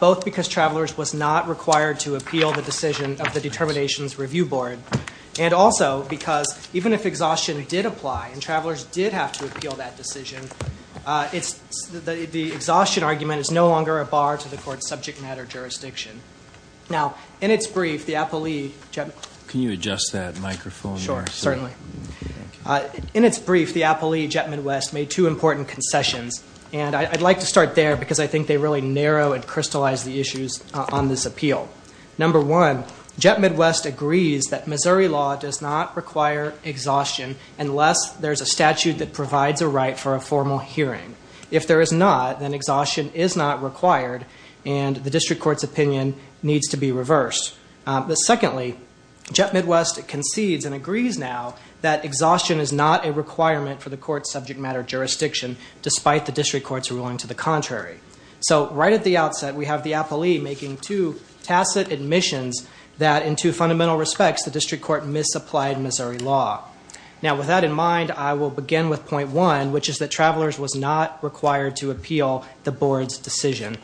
Both because Travelers was not required to appeal the decision of the Determinations Review Board, and also because even if exhaustion did apply and Travelers did have to appeal that decision, the exhaustion argument is no longer a bar to the court's subject matter jurisdiction. Now, in its brief, the Apolli Jet... Can you adjust that microphone? Sure, certainly. In its brief, the Apolli Jet Midwest made two important concessions, and I'd like to start there because I think they really narrow and crystallize the issues on this appeal. Number one, Jet Midwest agrees that Missouri law does not require exhaustion unless there's a statute that provides a right for a formal hearing. If there is not, then exhaustion is not required, and the district court's opinion needs to be reversed. But secondly, Jet Midwest concedes and agrees now that exhaustion is not a requirement for the court's subject matter jurisdiction, despite the So, right at the outset, we have the Apolli making two tacit admissions that, in two fundamental respects, the district court misapplied Missouri law. Now, with that in mind, I will begin with point one, which is that Travelers was not required to appeal the board's decision.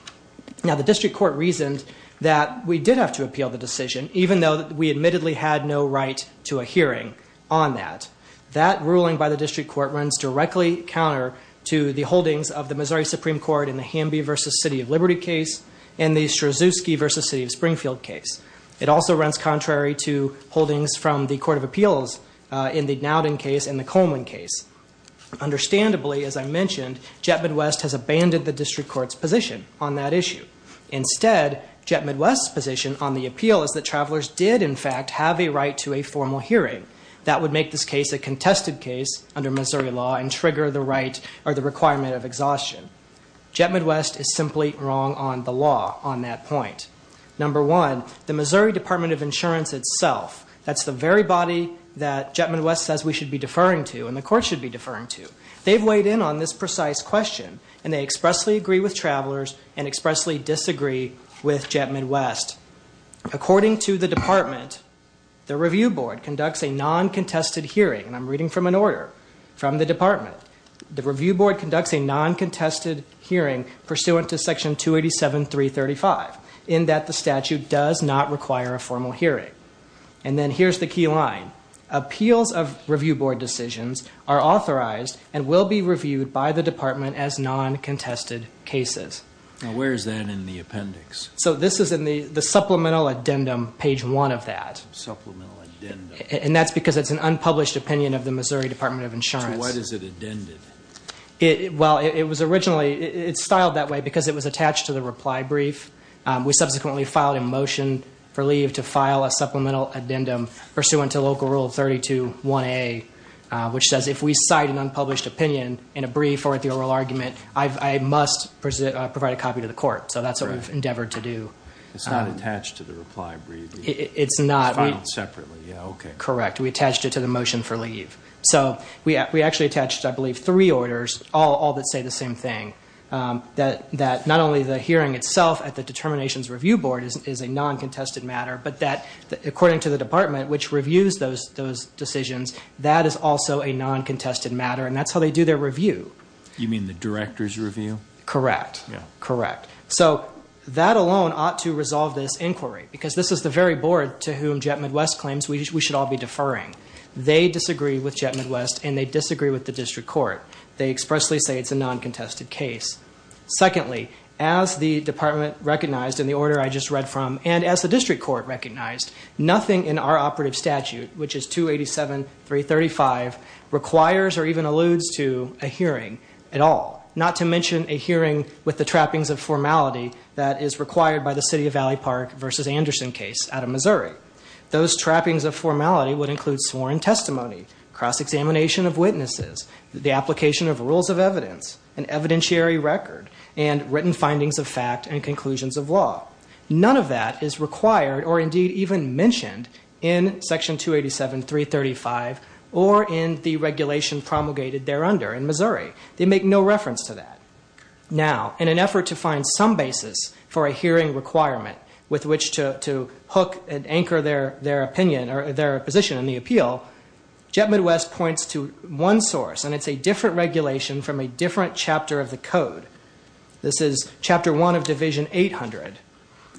Now, the district court reasoned that we did have to appeal the decision, even though we admittedly had no right to a hearing on that. That ruling by the district court runs directly counter to the holdings of the Missouri Supreme Court in the Hamby v. City of Liberty case and the Strasvowski v. City of Springfield case. It also runs contrary to holdings from the Court of Appeals in the Nowden case and the Coleman case. Understandably, as I mentioned, Jet Midwest has abandoned the district court's position on that issue. Instead, Jet Midwest's position on the appeal is that Travelers did, in fact, have a right to a formal hearing. That would make this case a contested case under Missouri law and trigger the right or the requirement of exhaustion. Jet Midwest is simply wrong on the law on that point. Number one, the Missouri Department of Insurance itself, that's the very body that Jet Midwest says we should be deferring to and the court should be deferring to, they've weighed in on this precise question and they expressly agree with Travelers and expressly disagree with Jet Midwest. According to the department, the review board conducts a non-contested hearing, and I'm reading from an order from the department, the review board conducts a non-contested hearing pursuant to section 287.335 in that the statute does not require a formal hearing. And then here's the key line. Appeals of review board decisions are authorized and will be reviewed by the department as non-contested cases. Now where is that in the appendix? So this is in the the supplemental addendum, page one of that. And that's because it's an unpublished opinion of the Missouri Department of Insurance. To what is it addended? Well, it was originally, it's styled that way because it was attached to the reply brief. We subsequently filed a motion for leave to file a supplemental addendum pursuant to local rule 32.1a, which says if we cite an unpublished opinion in a brief or at the oral argument, I must provide a copy to the court. So that's what we've endeavored to do. It's not attached to the reply brief. It's not. It's filed separately. Yeah, okay. Correct. We attached it to the motion for leave. So we actually attached, I believe, three orders, all that say the same thing. That not only the hearing itself at the determinations review board is a non-contested matter, but that according to the department which reviews those decisions, that is also a non-contested matter. And that's how they do their review. You mean the director's review? Correct. Yeah. Correct. So that alone ought to resolve this inquiry because this is the very board to whom Jet Midwest claims we should all be deferring. They disagree with Jet Midwest and they disagree with the district court. They expressly say it's a non-contested case. Secondly, as the department recognized in the order I just read from and as the district court recognized, nothing in our operative statute, which is 287.335, requires or even alludes to a hearing at all. Not to by the City of Valley Park versus Anderson case out of Missouri. Those trappings of formality would include sworn testimony, cross-examination of witnesses, the application of rules of evidence, an evidentiary record, and written findings of fact and conclusions of law. None of that is required or indeed even mentioned in section 287.335 or in the regulation promulgated there under in Missouri. They make no reference to that. Now, in an effort to a hearing requirement with which to hook and anchor their opinion or their position in the appeal, Jet Midwest points to one source and it's a different regulation from a different chapter of the code. This is chapter one of division 800.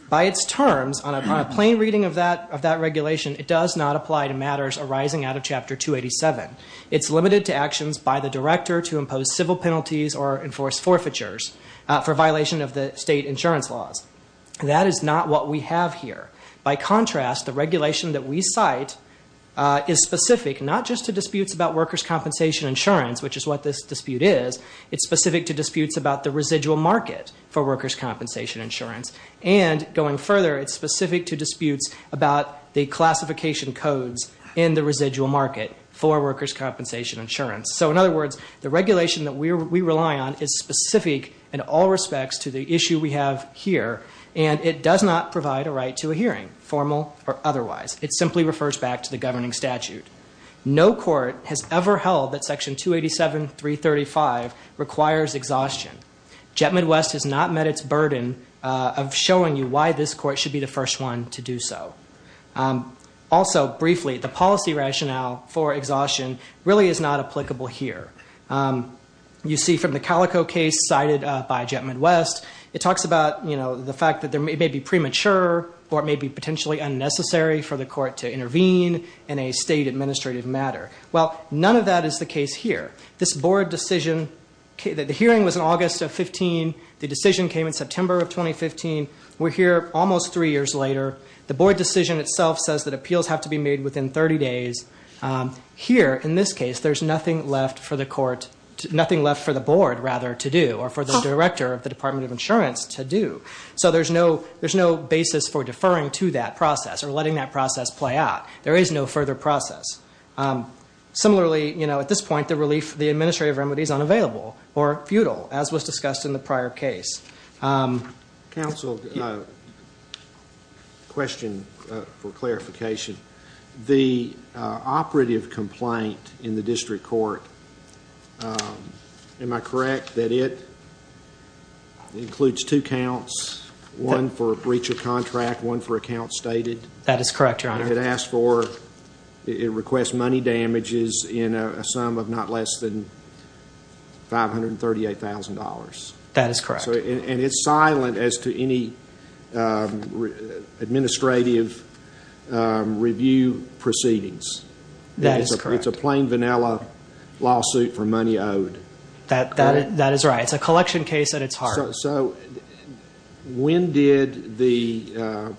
By its terms, on a plain reading of that regulation, it does not apply to matters arising out of chapter 287. It's limited to actions by the director to impose civil penalties or enforce forfeitures for violation of the state insurance laws. That is not what we have here. By contrast, the regulation that we cite is specific not just to disputes about workers' compensation insurance, which is what this dispute is, it's specific to disputes about the residual market for workers' compensation insurance. And going further, it's specific to disputes about the classification codes in the residual market for workers' compensation insurance. So in other words, the issue we have here, and it does not provide a right to a hearing, formal or otherwise. It simply refers back to the governing statute. No court has ever held that section 287.335 requires exhaustion. Jet Midwest has not met its burden of showing you why this court should be the first one to do so. Also, briefly, the policy rationale for exhaustion really is not applicable here. You see from the Calico case cited by Jet Midwest, it talks about, you know, the fact that there may be premature or it may be potentially unnecessary for the court to intervene in a state administrative matter. Well, none of that is the case here. This board decision, the hearing was in August of 15. The decision came in September of 2015. We're here almost three years later. The board decision itself says that appeals have to be made within 30 days. Here, in this court, nothing left for the board to do or for the director of the Department of Insurance to do. So there's no basis for deferring to that process or letting that process play out. There is no further process. Similarly, you know, at this point, the relief, the administrative remedy is unavailable or futile, as was discussed in the prior case. Counsel, a question for the board. Am I correct that it includes two counts, one for breach of contract, one for account stated? That is correct, your honor. It asked for, it requests money damages in a sum of not less than $538,000. That is correct. And it's silent as to any administrative review proceedings. That is correct. It's a plain vanilla lawsuit for money owed. That is right. It's a collection case at its heart. So when did the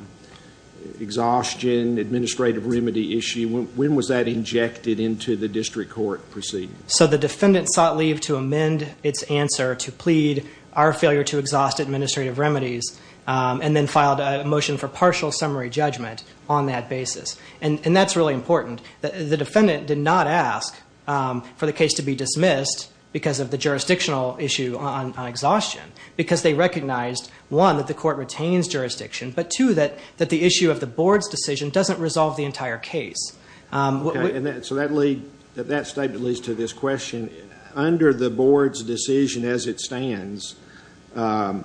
exhaustion, administrative remedy issue, when was that injected into the district court proceeding? So the defendant sought leave to amend its answer to plead our failure to exhaust administrative remedies and then filed a motion for partial summary judgment on that basis. And that's really important. The defendant did not ask for the case to be dismissed because of the jurisdictional issue on exhaustion, because they recognized, one, that the court retains jurisdiction, but two, that the issue of the board's decision doesn't resolve the entire case. Okay. So that lead, that statement leads to this question. Under the board's decision as it stands, no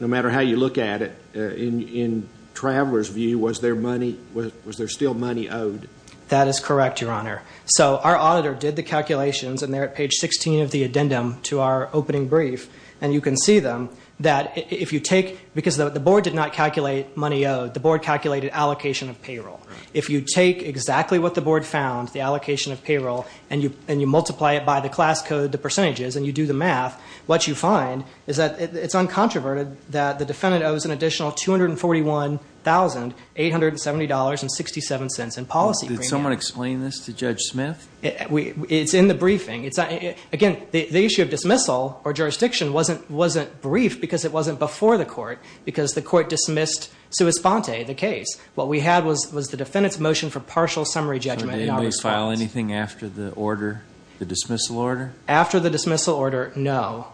matter how you look at it, in traveler's view, was there money, was there still money owed? That is correct, your honor. So our auditor did the calculations and they're at page 16 of the addendum to our opening brief, and you can see them, that if you take, because the board did not calculate money owed, the board calculated allocation of payroll. If you take exactly what the board found, the allocation of payroll, and you multiply it by the class code, the percentages, and you do the math, what you find is that it's uncontroverted that the defendant owes an additional $241,870.67 in policy. Did someone explain this to Judge Smith? We, it's in the briefing. It's, again, the issue of dismissal or jurisdiction wasn't, wasn't briefed because it wasn't before the court, because the court dismissed sua sponte, the case. What we had was, was the defendant's motion for partial summary judgment. Did anybody file anything after the order, the dismissal order? After the dismissal order, no.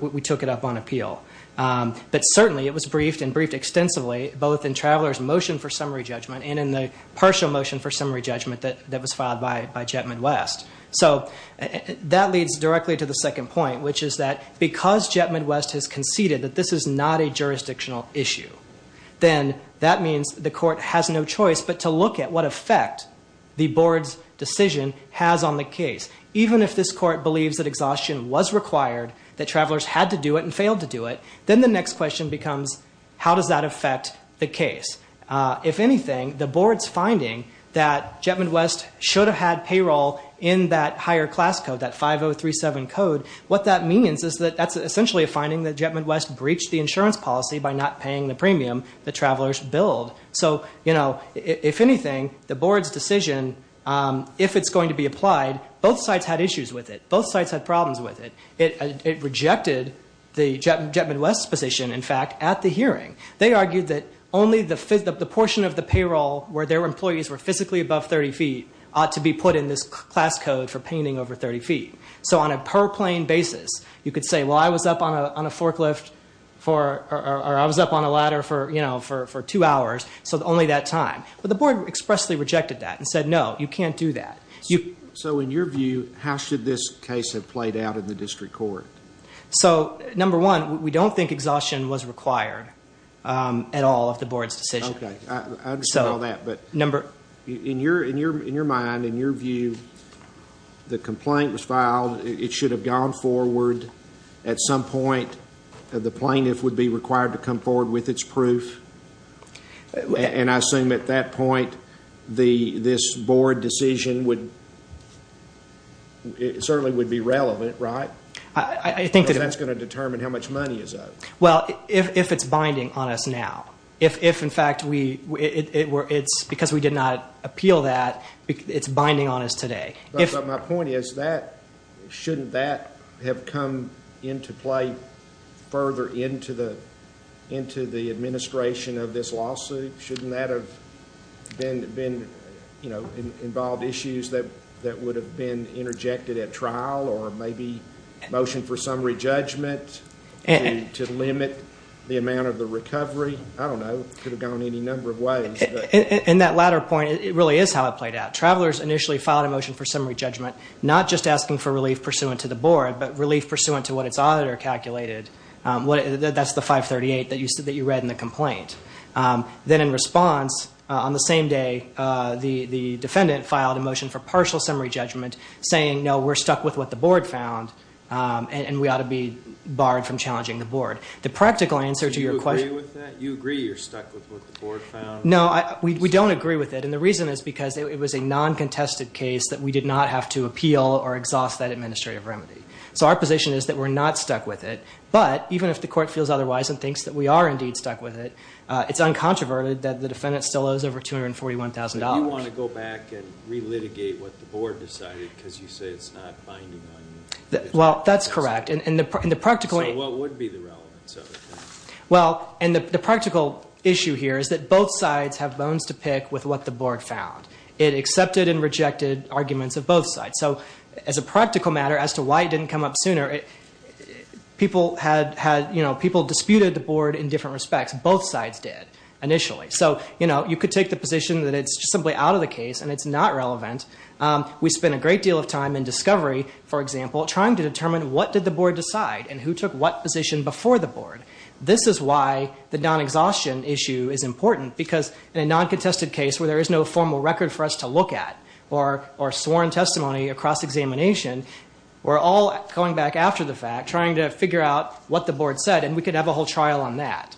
We certainly, it was briefed and briefed extensively, both in Traveler's motion for summary judgment and in the partial motion for summary judgment that, that was filed by, by Jet Midwest. So that leads directly to the second point, which is that because Jet Midwest has conceded that this is not a jurisdictional issue, then that means the court has no choice but to look at what effect the board's decision has on the case. Even if this court believes that exhaustion was required, that Travelers had to do it and failed to do it, then the next question becomes, how does that affect the case? If anything, the board's finding that Jet Midwest should have had payroll in that higher class code, that 5037 code. What that means is that that's essentially a finding that Jet Midwest breached the insurance policy by not paying the premium that Travelers billed. So, you know, if anything, the board's decision, if it's going to be applied, both sides had issues with it. Both sides had problems with it. It rejected the Jet Midwest position, in fact, at the hearing. They argued that only the, the portion of the payroll where their employees were physically above 30 feet ought to be put in this class code for painting over 30 feet. So on a per plane basis, you could say, well, I was up on a, on a forklift for, or I was up on a ladder for, you know, for, for two hours, so only that time. But the board expressly rejected that and said, no, you can't do that. You. So in your view, how should this case have played out in the district court? So number one, we don't think exhaustion was required at all of the board's decision. Okay. I understand all that, but. Number. In your, in your, in your mind, in your view, the complaint was filed. It should have gone forward at some point. The plaintiff would be required to come forward with its proof. And I assume at that point, the, this board decision would, certainly would be relevant, right? I, I think that. That's going to determine how much money is owed. Well, if, if it's binding on us now, if, if in fact we, it, it were, it's because we did not appeal that, it's binding on us today. If. But my question is, shouldn't that have come into play further into the, into the administration of this lawsuit? Shouldn't that have been, been, you know, involved issues that, that would have been interjected at trial or maybe motion for summary judgment to limit the amount of the recovery? I don't know. It could have gone any number of ways. In that latter point, it really is how it played out. Travelers initially filed a motion for summary judgment, not just asking for the board, but relief pursuant to what its auditor calculated. What, that's the 538 that you said, that you read in the complaint. Then in response, on the same day, the, the defendant filed a motion for partial summary judgment saying, no, we're stuck with what the board found, and we ought to be barred from challenging the board. The practical answer to your question. Do you agree with that? You agree you're stuck with what the board found? No, I, we don't agree with it. And the reason is because it was a non-contested case that we did not have to appeal or exhaust that administrative remedy. So our position is that we're not stuck with it, but even if the court feels otherwise and thinks that we are indeed stuck with it, it's uncontroverted that the defendant still owes over $241,000. If you want to go back and re-litigate what the board decided because you say it's not binding on you. Well, that's correct. And, and the, and the practical. So what would be the relevance of it then? Well, and the practical issue here is that both sides have bones to pick with what the board found. It accepted and rejected arguments of both sides. So as a practical matter as to why it didn't come up sooner, people had had, you know, people disputed the board in different respects. Both sides did initially. So, you know, you could take the position that it's simply out of the case and it's not relevant. We spent a great deal of time in discovery, for example, trying to determine what did the board decide and who took what position before the board. This is why the non-exhaustion issue is important because in a non-contested case where there is no formal record for us to look at or, or sworn testimony across examination, we're all going back after the fact trying to figure out what the board said and we could have a whole trial on that,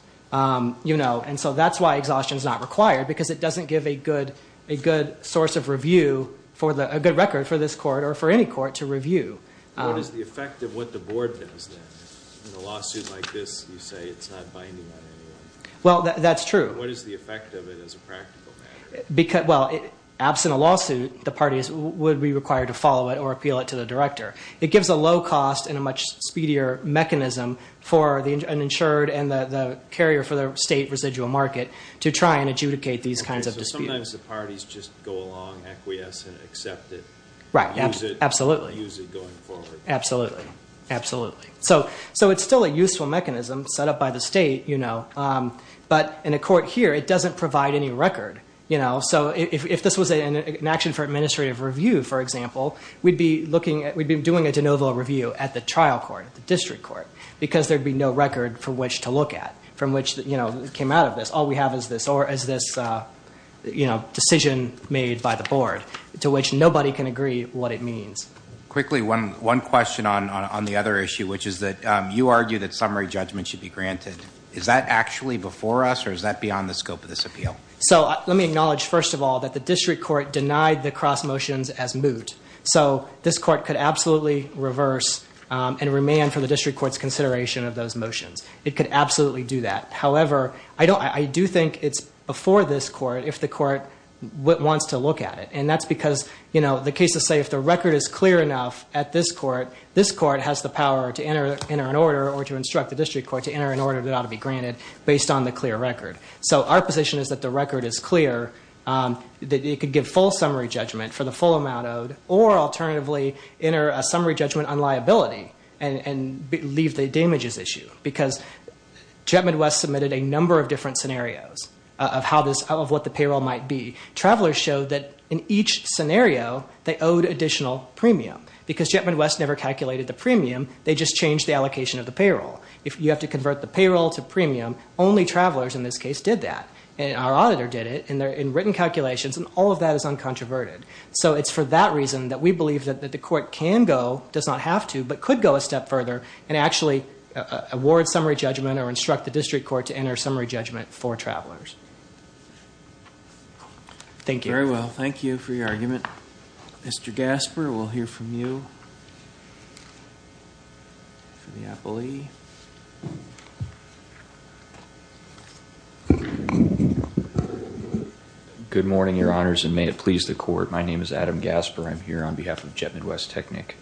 you know. And so that's why exhaustion is not required because it doesn't give a good, a good source of review for the, a good record for this court or for any court to review. What is the effect of what the board does then? In a lawsuit like this, you say it's not binding on anyone. Well, that's true. What is the effect of it as a practical matter? Because, well, absent a lawsuit, the parties would be required to follow it or appeal it to the director. It gives a low cost and a much speedier mechanism for the uninsured and the carrier for the state residual market to try and adjudicate these kinds of disputes. So sometimes the parties just go along, acquiesce, and accept it, use it, use it going forward. Absolutely, absolutely. So, so it's still a useful mechanism set up by the state, you know, but in a court here, it doesn't provide any record, you know. So if this was an action for administrative review, for example, we'd be looking at, we'd be doing a de novo review at the trial court, the district court, because there'd be no record for which to look at, from which, you know, it came out of this. All we have is this, or is this, you know, decision made by the board to which nobody can agree what it means. Quickly, one, one question on, on the other issue, which is that you argue that summary judgment should be granted. Is that actually before us, or is that beyond the scope of this appeal? So let me acknowledge, first of all, that the district court denied the cross motions as moot. So this court could absolutely reverse and remain for the district court's consideration of those motions. It could absolutely do that. However, I don't, I do think it's before this court if the court wants to look at it. And that's because, you know, the cases say if the record is clear enough at this court, this court has the power to enter, enter an order or to instruct the district court to enter an order that ought to be granted based on the clear record. So our position is that the record is clear, that it could give full summary judgment for the full amount owed, or alternatively enter a summary judgment on liability and leave the damages issue. Because Jet Midwest submitted a number of different scenarios of how this, of what the payroll might be. Travelers showed that in each scenario they owed additional premium. Because Jet Midwest never calculated the premium, they just changed the allocation of the payroll. If you have to convert the payroll to premium, only travelers in this case did that. And our auditor did it, and they're in written calculations, and all of that is uncontroverted. So it's for that reason that we believe that the court can go, does not have to, but could go a step further, and actually award summary judgment or instruct the district court to enter summary judgment for travelers. Thank you. Very well. Thank you for your argument. Mr. Gasper, we'll hear from you for the appellee. Good morning, Your Honors, and may it please the court. My name is Adam Gasper. I'm here on behalf of Jet Midwest Technic.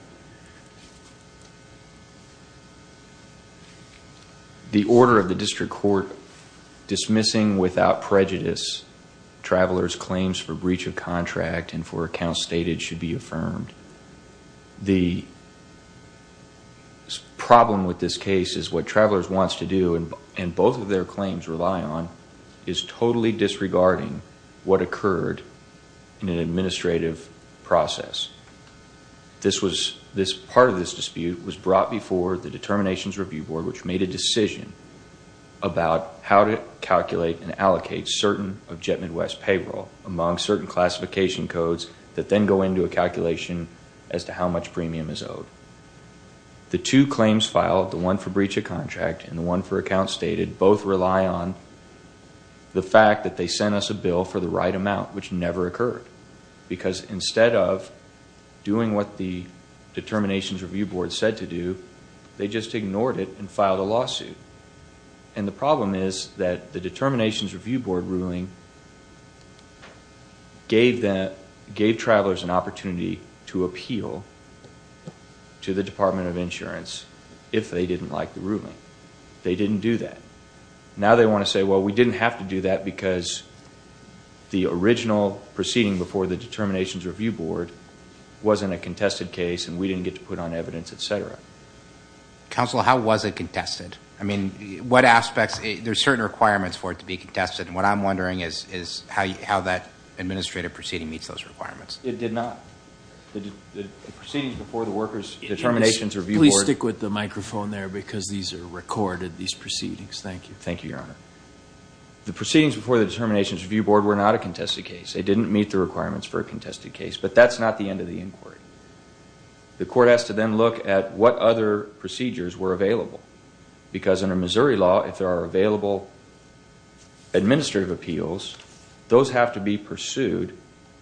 The order of the district court dismissing without prejudice travelers' claims for breach of contract and for accounts stated should be affirmed. The problem with this case is what travelers wants to do, and both of their claims rely on, is totally disregarding what occurred in an administrative process. Part of this dispute was brought before the determinations review board, which made a decision about how to calculate and allocate certain of Jet Midwest payroll among certain classification codes that then go into a calculation as to how much premium is owed. The two claims filed, the one for breach of contract and the one for accounts stated, both rely on the fact that they sent us a bill for the right amount, which never occurred, because instead of doing what the determinations review board said to do, they just ignored it and filed a lawsuit. The problem is that the determinations review board ruling gave travelers an opportunity to appeal to the Department of Insurance if they didn't like the ruling. They didn't do that. Now they want to say, well, we didn't have to do that because the original proceeding before the determinations review board wasn't a contested case and we didn't get to put on evidence, et cetera. Counsel, how was it contested? I mean, what aspects, there's certain requirements for it to be contested, and what I'm wondering is how that administrative proceeding meets those requirements. It did not. The proceedings before the workers' determinations review board. Please stick with the microphone there because these are recorded, these proceedings. Thank you. Thank you, Your Honor. The proceedings before the determinations review board were not a contested case. They didn't meet the requirements for a contested case, but that's not the end of the inquiry. The court has to then look at what other procedures were available because under Missouri law, if there are available administrative appeals, those have to be pursued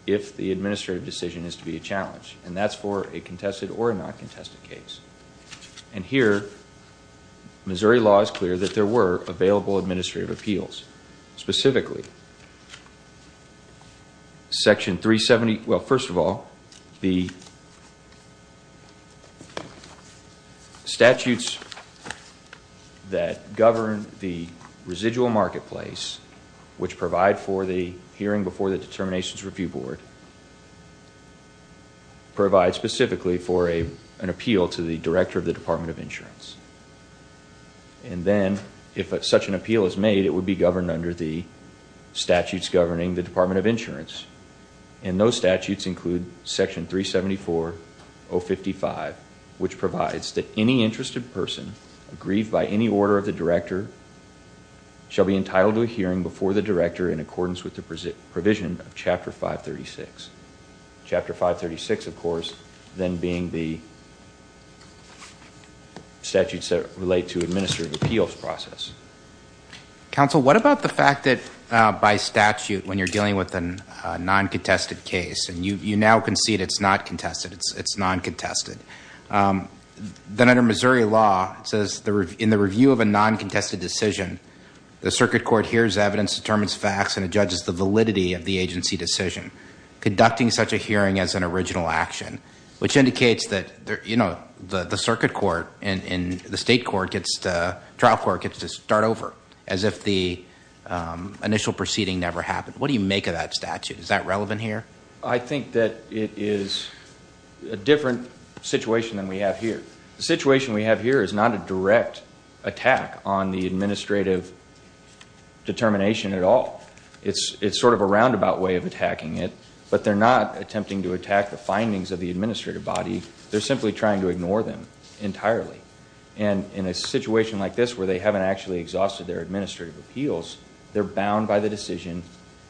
if the administrative decision is to be a challenge, and that's for a contested or a non-contested case. And here, Missouri law is clear that there were available administrative appeals. Specifically, Section 370, well, first of all, the statutes that govern the residual marketplace, which provide for the hearing before the determinations review board, provide specifically for an appeal to the director of the Department of Insurance. And then, if such an appeal is made, it would be governed under the statutes governing the Department of Insurance. And those statutes include Section 374.055, which provides that any interested person aggrieved by any order of the director shall be entitled to a hearing before the director in accordance with the provision of Chapter 536. Chapter 536, of course, then being the statutes that relate to administrative appeals process. Counsel, what about the fact that by statute, when you're dealing with a non-contested case, and you now concede it's not contested, it's non-contested. Then under Missouri law, it says, in the review of a non-contested decision, the circuit court hears evidence, determines facts, and judges the validity of the agency decision. Conducting such a hearing as an original action, which indicates that the circuit court and the state trial court gets to start over, as if the initial proceeding never happened. What do you make of that statute? Is that relevant here? I think that it is a different situation than we have here. The situation we have here is not a direct attack on the administrative determination at all. It's sort of a roundabout way of attacking it, but they're not attempting to attack the findings of the administrative body. They're simply trying to ignore them entirely. And in a situation like this, where they haven't actually exhausted their administrative appeals, they're bound by the decision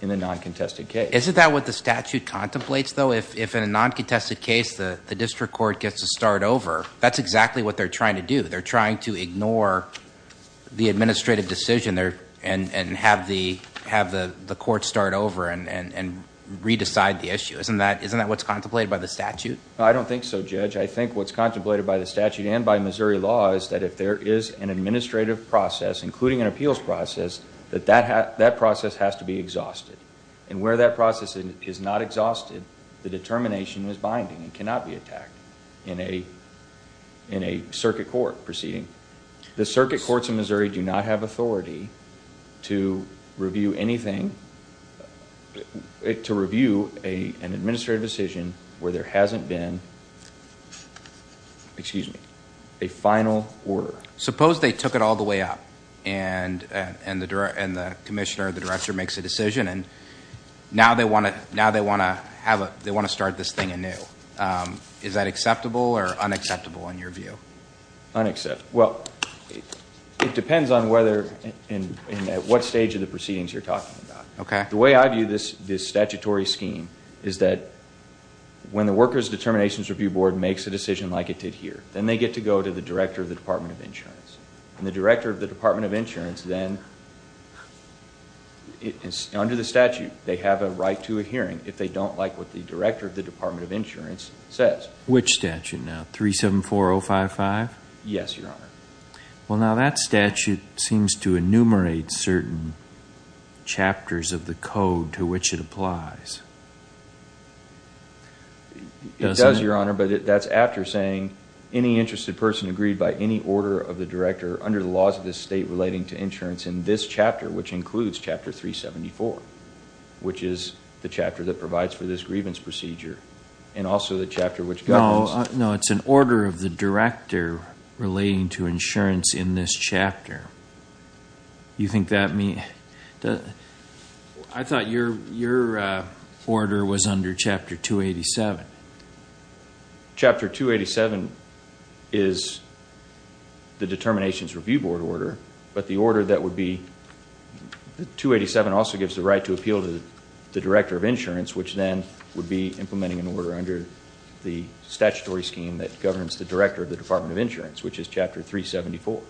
in a non-contested case. Isn't that what the statute contemplates, though? If in a non-contested case, the district court gets to start over, that's exactly what they're trying to do. They're trying to ignore the administrative decision and have the court start over and re-decide the issue. Isn't that what's contemplated by the statute? I don't think so, Judge. I think what's contemplated by the statute and by Missouri law is that if there is an administrative process, including an appeals process, that that process has to be exhausted. And where that process is not exhausted, the determination is binding and cannot be attacked in a circuit court proceeding. The circuit courts in Missouri do not have authority to review anything, to review an administrative decision where there hasn't been a final order. Suppose they took it all the way up and the commissioner or the director makes a decision and now they want to start this thing anew. Is that acceptable or unacceptable in your view? It depends on at what stage of the proceedings you're talking about. The way I view this statutory scheme is that when the Workers Determinations Review Board makes a decision like it did here, then they get to go to the director of the Department of Insurance. And the director of the Department of Insurance then, under the statute, they have a right to a hearing if they don't like what the director of the Department of Insurance says. Which statute now, 374055? Yes, Your Honor. Well, now that statute seems to enumerate certain chapters of the code to which it applies. It does, Your Honor, but that's after saying any interested person agreed by any order of the director under the laws of this state relating to insurance in this chapter, which includes Chapter 374, which is the chapter that provides for this grievance procedure and also the chapter which governs. No, it's an order of the director relating to insurance in this chapter. Do you think that means? I thought your order was under Chapter 287. Chapter 287 is the Determinations Review Board order, but the order that would be, 287 also gives the right to appeal to the director of insurance, which then would be implementing an order under the statutory scheme that governs the director of the Department of Insurance, which is Chapter 374.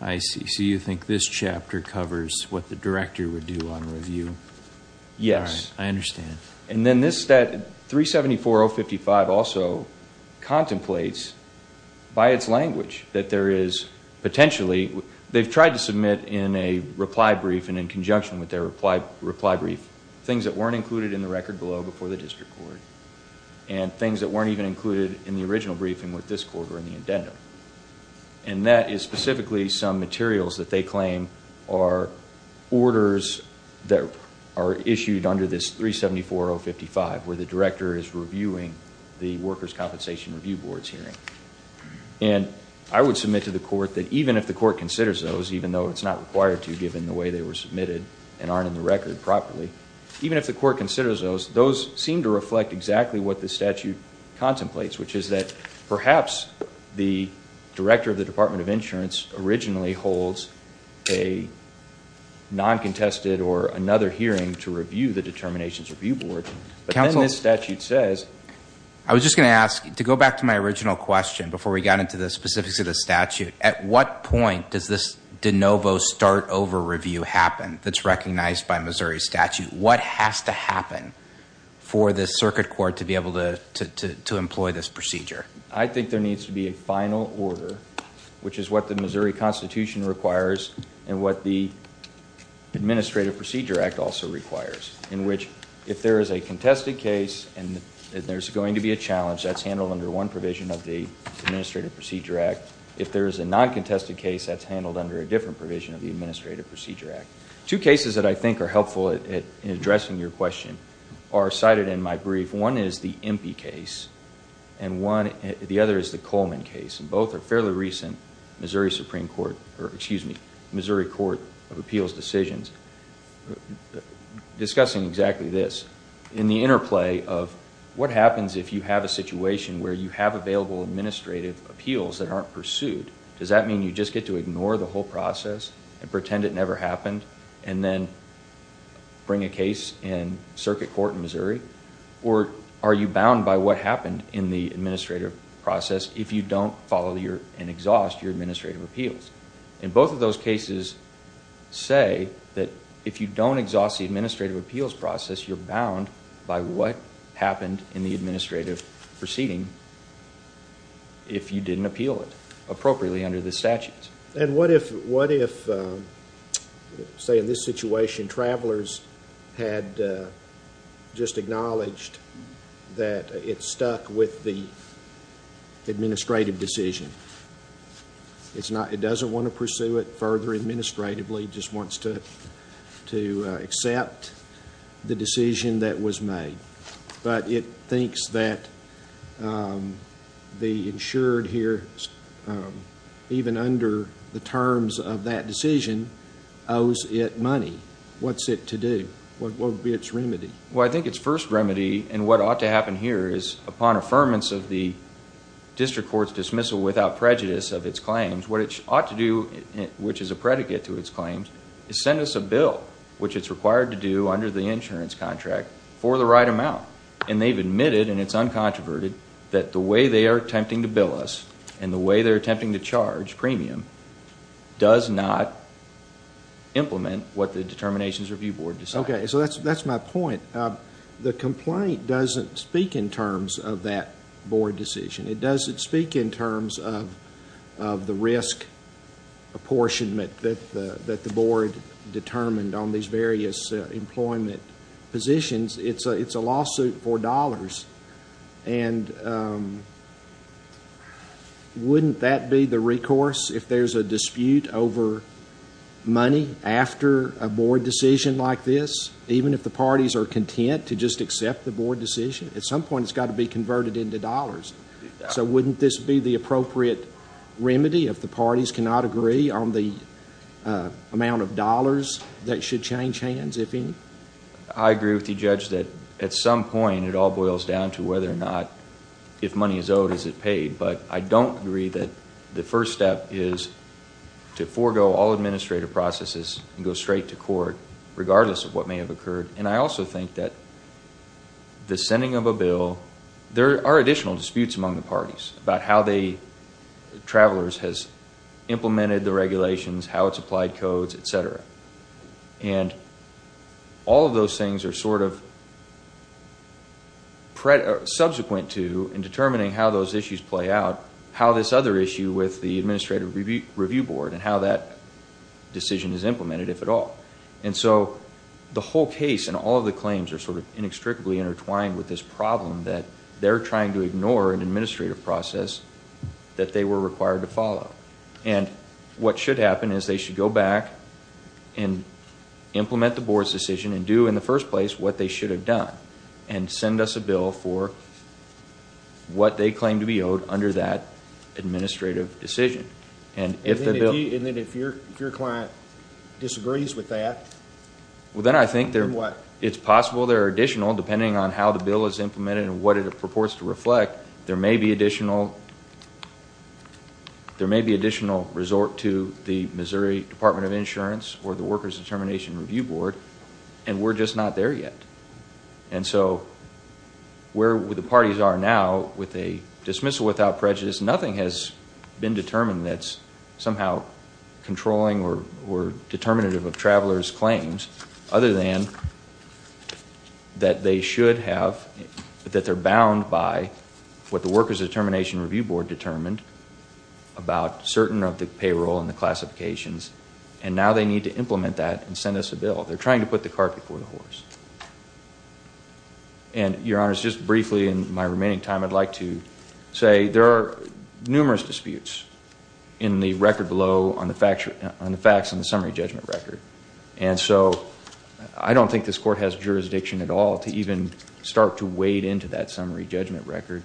I see. So you think this chapter covers what the director would do on review? Yes. I understand. And then this, that 374.055 also contemplates by its language that there is potentially, they've tried to submit in a reply brief and in conjunction with their reply brief, things that weren't included in the record below before the district court and things that weren't even included in the original briefing with this court or in the addendum. And that is specifically some materials that they claim are orders that are issued under this 374.055, where the director is reviewing the Workers' Compensation Review Board's hearing. And I would submit to the court that even if the court considers those, even though it's not required to given the way they were submitted and aren't in the record properly, even if the court considers those, those seem to reflect exactly what the statute contemplates, which is that perhaps the director of the Department of Insurance originally holds a non-contested or another hearing to review the Determinations Review Board. But then this statute says. I was just going to ask, to go back to my original question before we got into the specifics of the statute, at what point does this de novo start over review happen that's recognized by Missouri statute? What has to happen for the circuit court to be able to employ this procedure? I think there needs to be a final order, which is what the Missouri Constitution requires and what the Administrative Procedure Act also requires, in which if there is a contested case and there's going to be a challenge, that's handled under one provision of the Administrative Procedure Act. If there is a non-contested case, that's handled under a different provision of the Administrative Procedure Act. Two cases that I think are helpful in addressing your question are cited in my brief. One is the Impey case, and the other is the Coleman case. Both are fairly recent Missouri Supreme Court, or excuse me, Missouri Court of Appeals decisions. Discussing exactly this, in the interplay of what happens if you have a situation where you have available administrative appeals that aren't pursued? Does that mean you just get to ignore the whole process and pretend it never happened, and then bring a case in circuit court in Missouri? Or are you bound by what happened in the administrative process if you don't follow and exhaust your administrative appeals? Both of those cases say that if you don't exhaust the administrative appeals process, you're bound by what happened in the administrative proceeding if you didn't appeal it appropriately under the statutes. What if, say in this situation, travelers had just acknowledged that it stuck with the administrative decision? It doesn't want to pursue it further administratively. It just wants to accept the decision that was made. But it thinks that the insured here, even under the terms of that decision, owes it money. What's it to do? What would be its remedy? Well, I think its first remedy, and what ought to happen here, is upon affirmance of the district court's dismissal without prejudice of its claims, what it ought to do, which is a predicate to its claims, is send us a bill, which it's required to do under the insurance contract, for the right amount. And they've admitted, and it's uncontroverted, that the way they are attempting to bill us and the way they're attempting to charge premium does not implement what the determinations review board decided. Okay, so that's my point. The complaint doesn't speak in terms of that board decision. It doesn't speak in terms of the risk apportionment that the board determined on these various employment positions. It's a lawsuit for dollars. And wouldn't that be the recourse if there's a dispute over money after a board decision like this, even if the parties are content to just accept the board decision? At some point it's got to be converted into dollars. So wouldn't this be the appropriate remedy if the parties cannot agree on the amount of dollars that should change hands, if any? I agree with the judge that at some point it all boils down to whether or not, if money is owed, is it paid. But I don't agree that the first step is to forego all administrative processes and go straight to court, regardless of what may have occurred. And I also think that the sending of a bill, there are additional disputes among the parties about how Travelers has implemented the regulations, how it's applied codes, et cetera. And all of those things are sort of subsequent to in determining how those issues play out, how this other issue with the Administrative Review Board and how that decision is implemented, if at all. And so the whole case and all of the claims are sort of inextricably intertwined with this problem that they're trying to ignore an administrative process that they were required to follow. And what should happen is they should go back and implement the board's decision and do in the first place what they should have done and send us a bill for what they claim to be owed under that administrative decision. And then if your client disagrees with that, then what? Well, then I think it's possible there are additional, depending on how the bill is implemented and what it purports to reflect, that there may be additional resort to the Missouri Department of Insurance or the Workers Determination Review Board, and we're just not there yet. And so where the parties are now, with a dismissal without prejudice, nothing has been determined that's somehow controlling or determinative of Travelers' claims other than that they should have, that they're bound by what the Workers Determination Review Board determined about certain of the payroll and the classifications, and now they need to implement that and send us a bill. They're trying to put the cart before the horse. And, Your Honors, just briefly in my remaining time, I'd like to say there are numerous disputes in the record below on the facts in the summary judgment record. And so I don't think this Court has jurisdiction at all to even start to wade into that summary judgment record.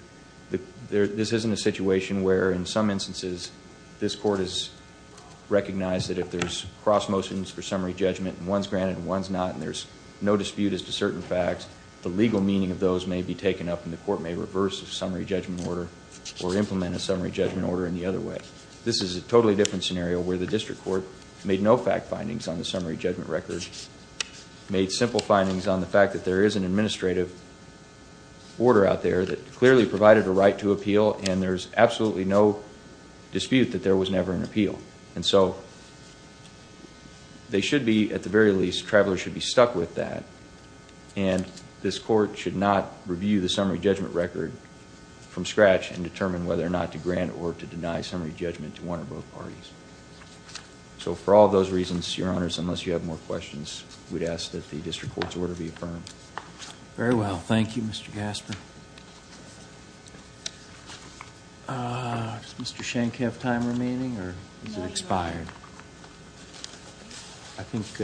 This isn't a situation where, in some instances, this Court has recognized that if there's cross motions for summary judgment and one's granted and one's not and there's no dispute as to certain facts, the legal meaning of those may be taken up and the Court may reverse a summary judgment order or implement a summary judgment order in the other way. This is a totally different scenario where the District Court made no fact findings on the summary judgment record, and made simple findings on the fact that there is an administrative order out there that clearly provided a right to appeal, and there's absolutely no dispute that there was never an appeal. And so they should be, at the very least, travelers should be stuck with that, and this Court should not review the summary judgment record from scratch and determine whether or not to grant or to deny summary judgment to one or both parties. So for all those reasons, Your Honors, unless you have more questions, we'd ask that the District Court's order be affirmed. Very well. Thank you, Mr. Gasper. Does Mr. Schenck have time remaining, or is it expired? I think...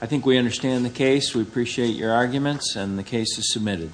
I think we understand the case. We appreciate your arguments, and the case is submitted. Thank you.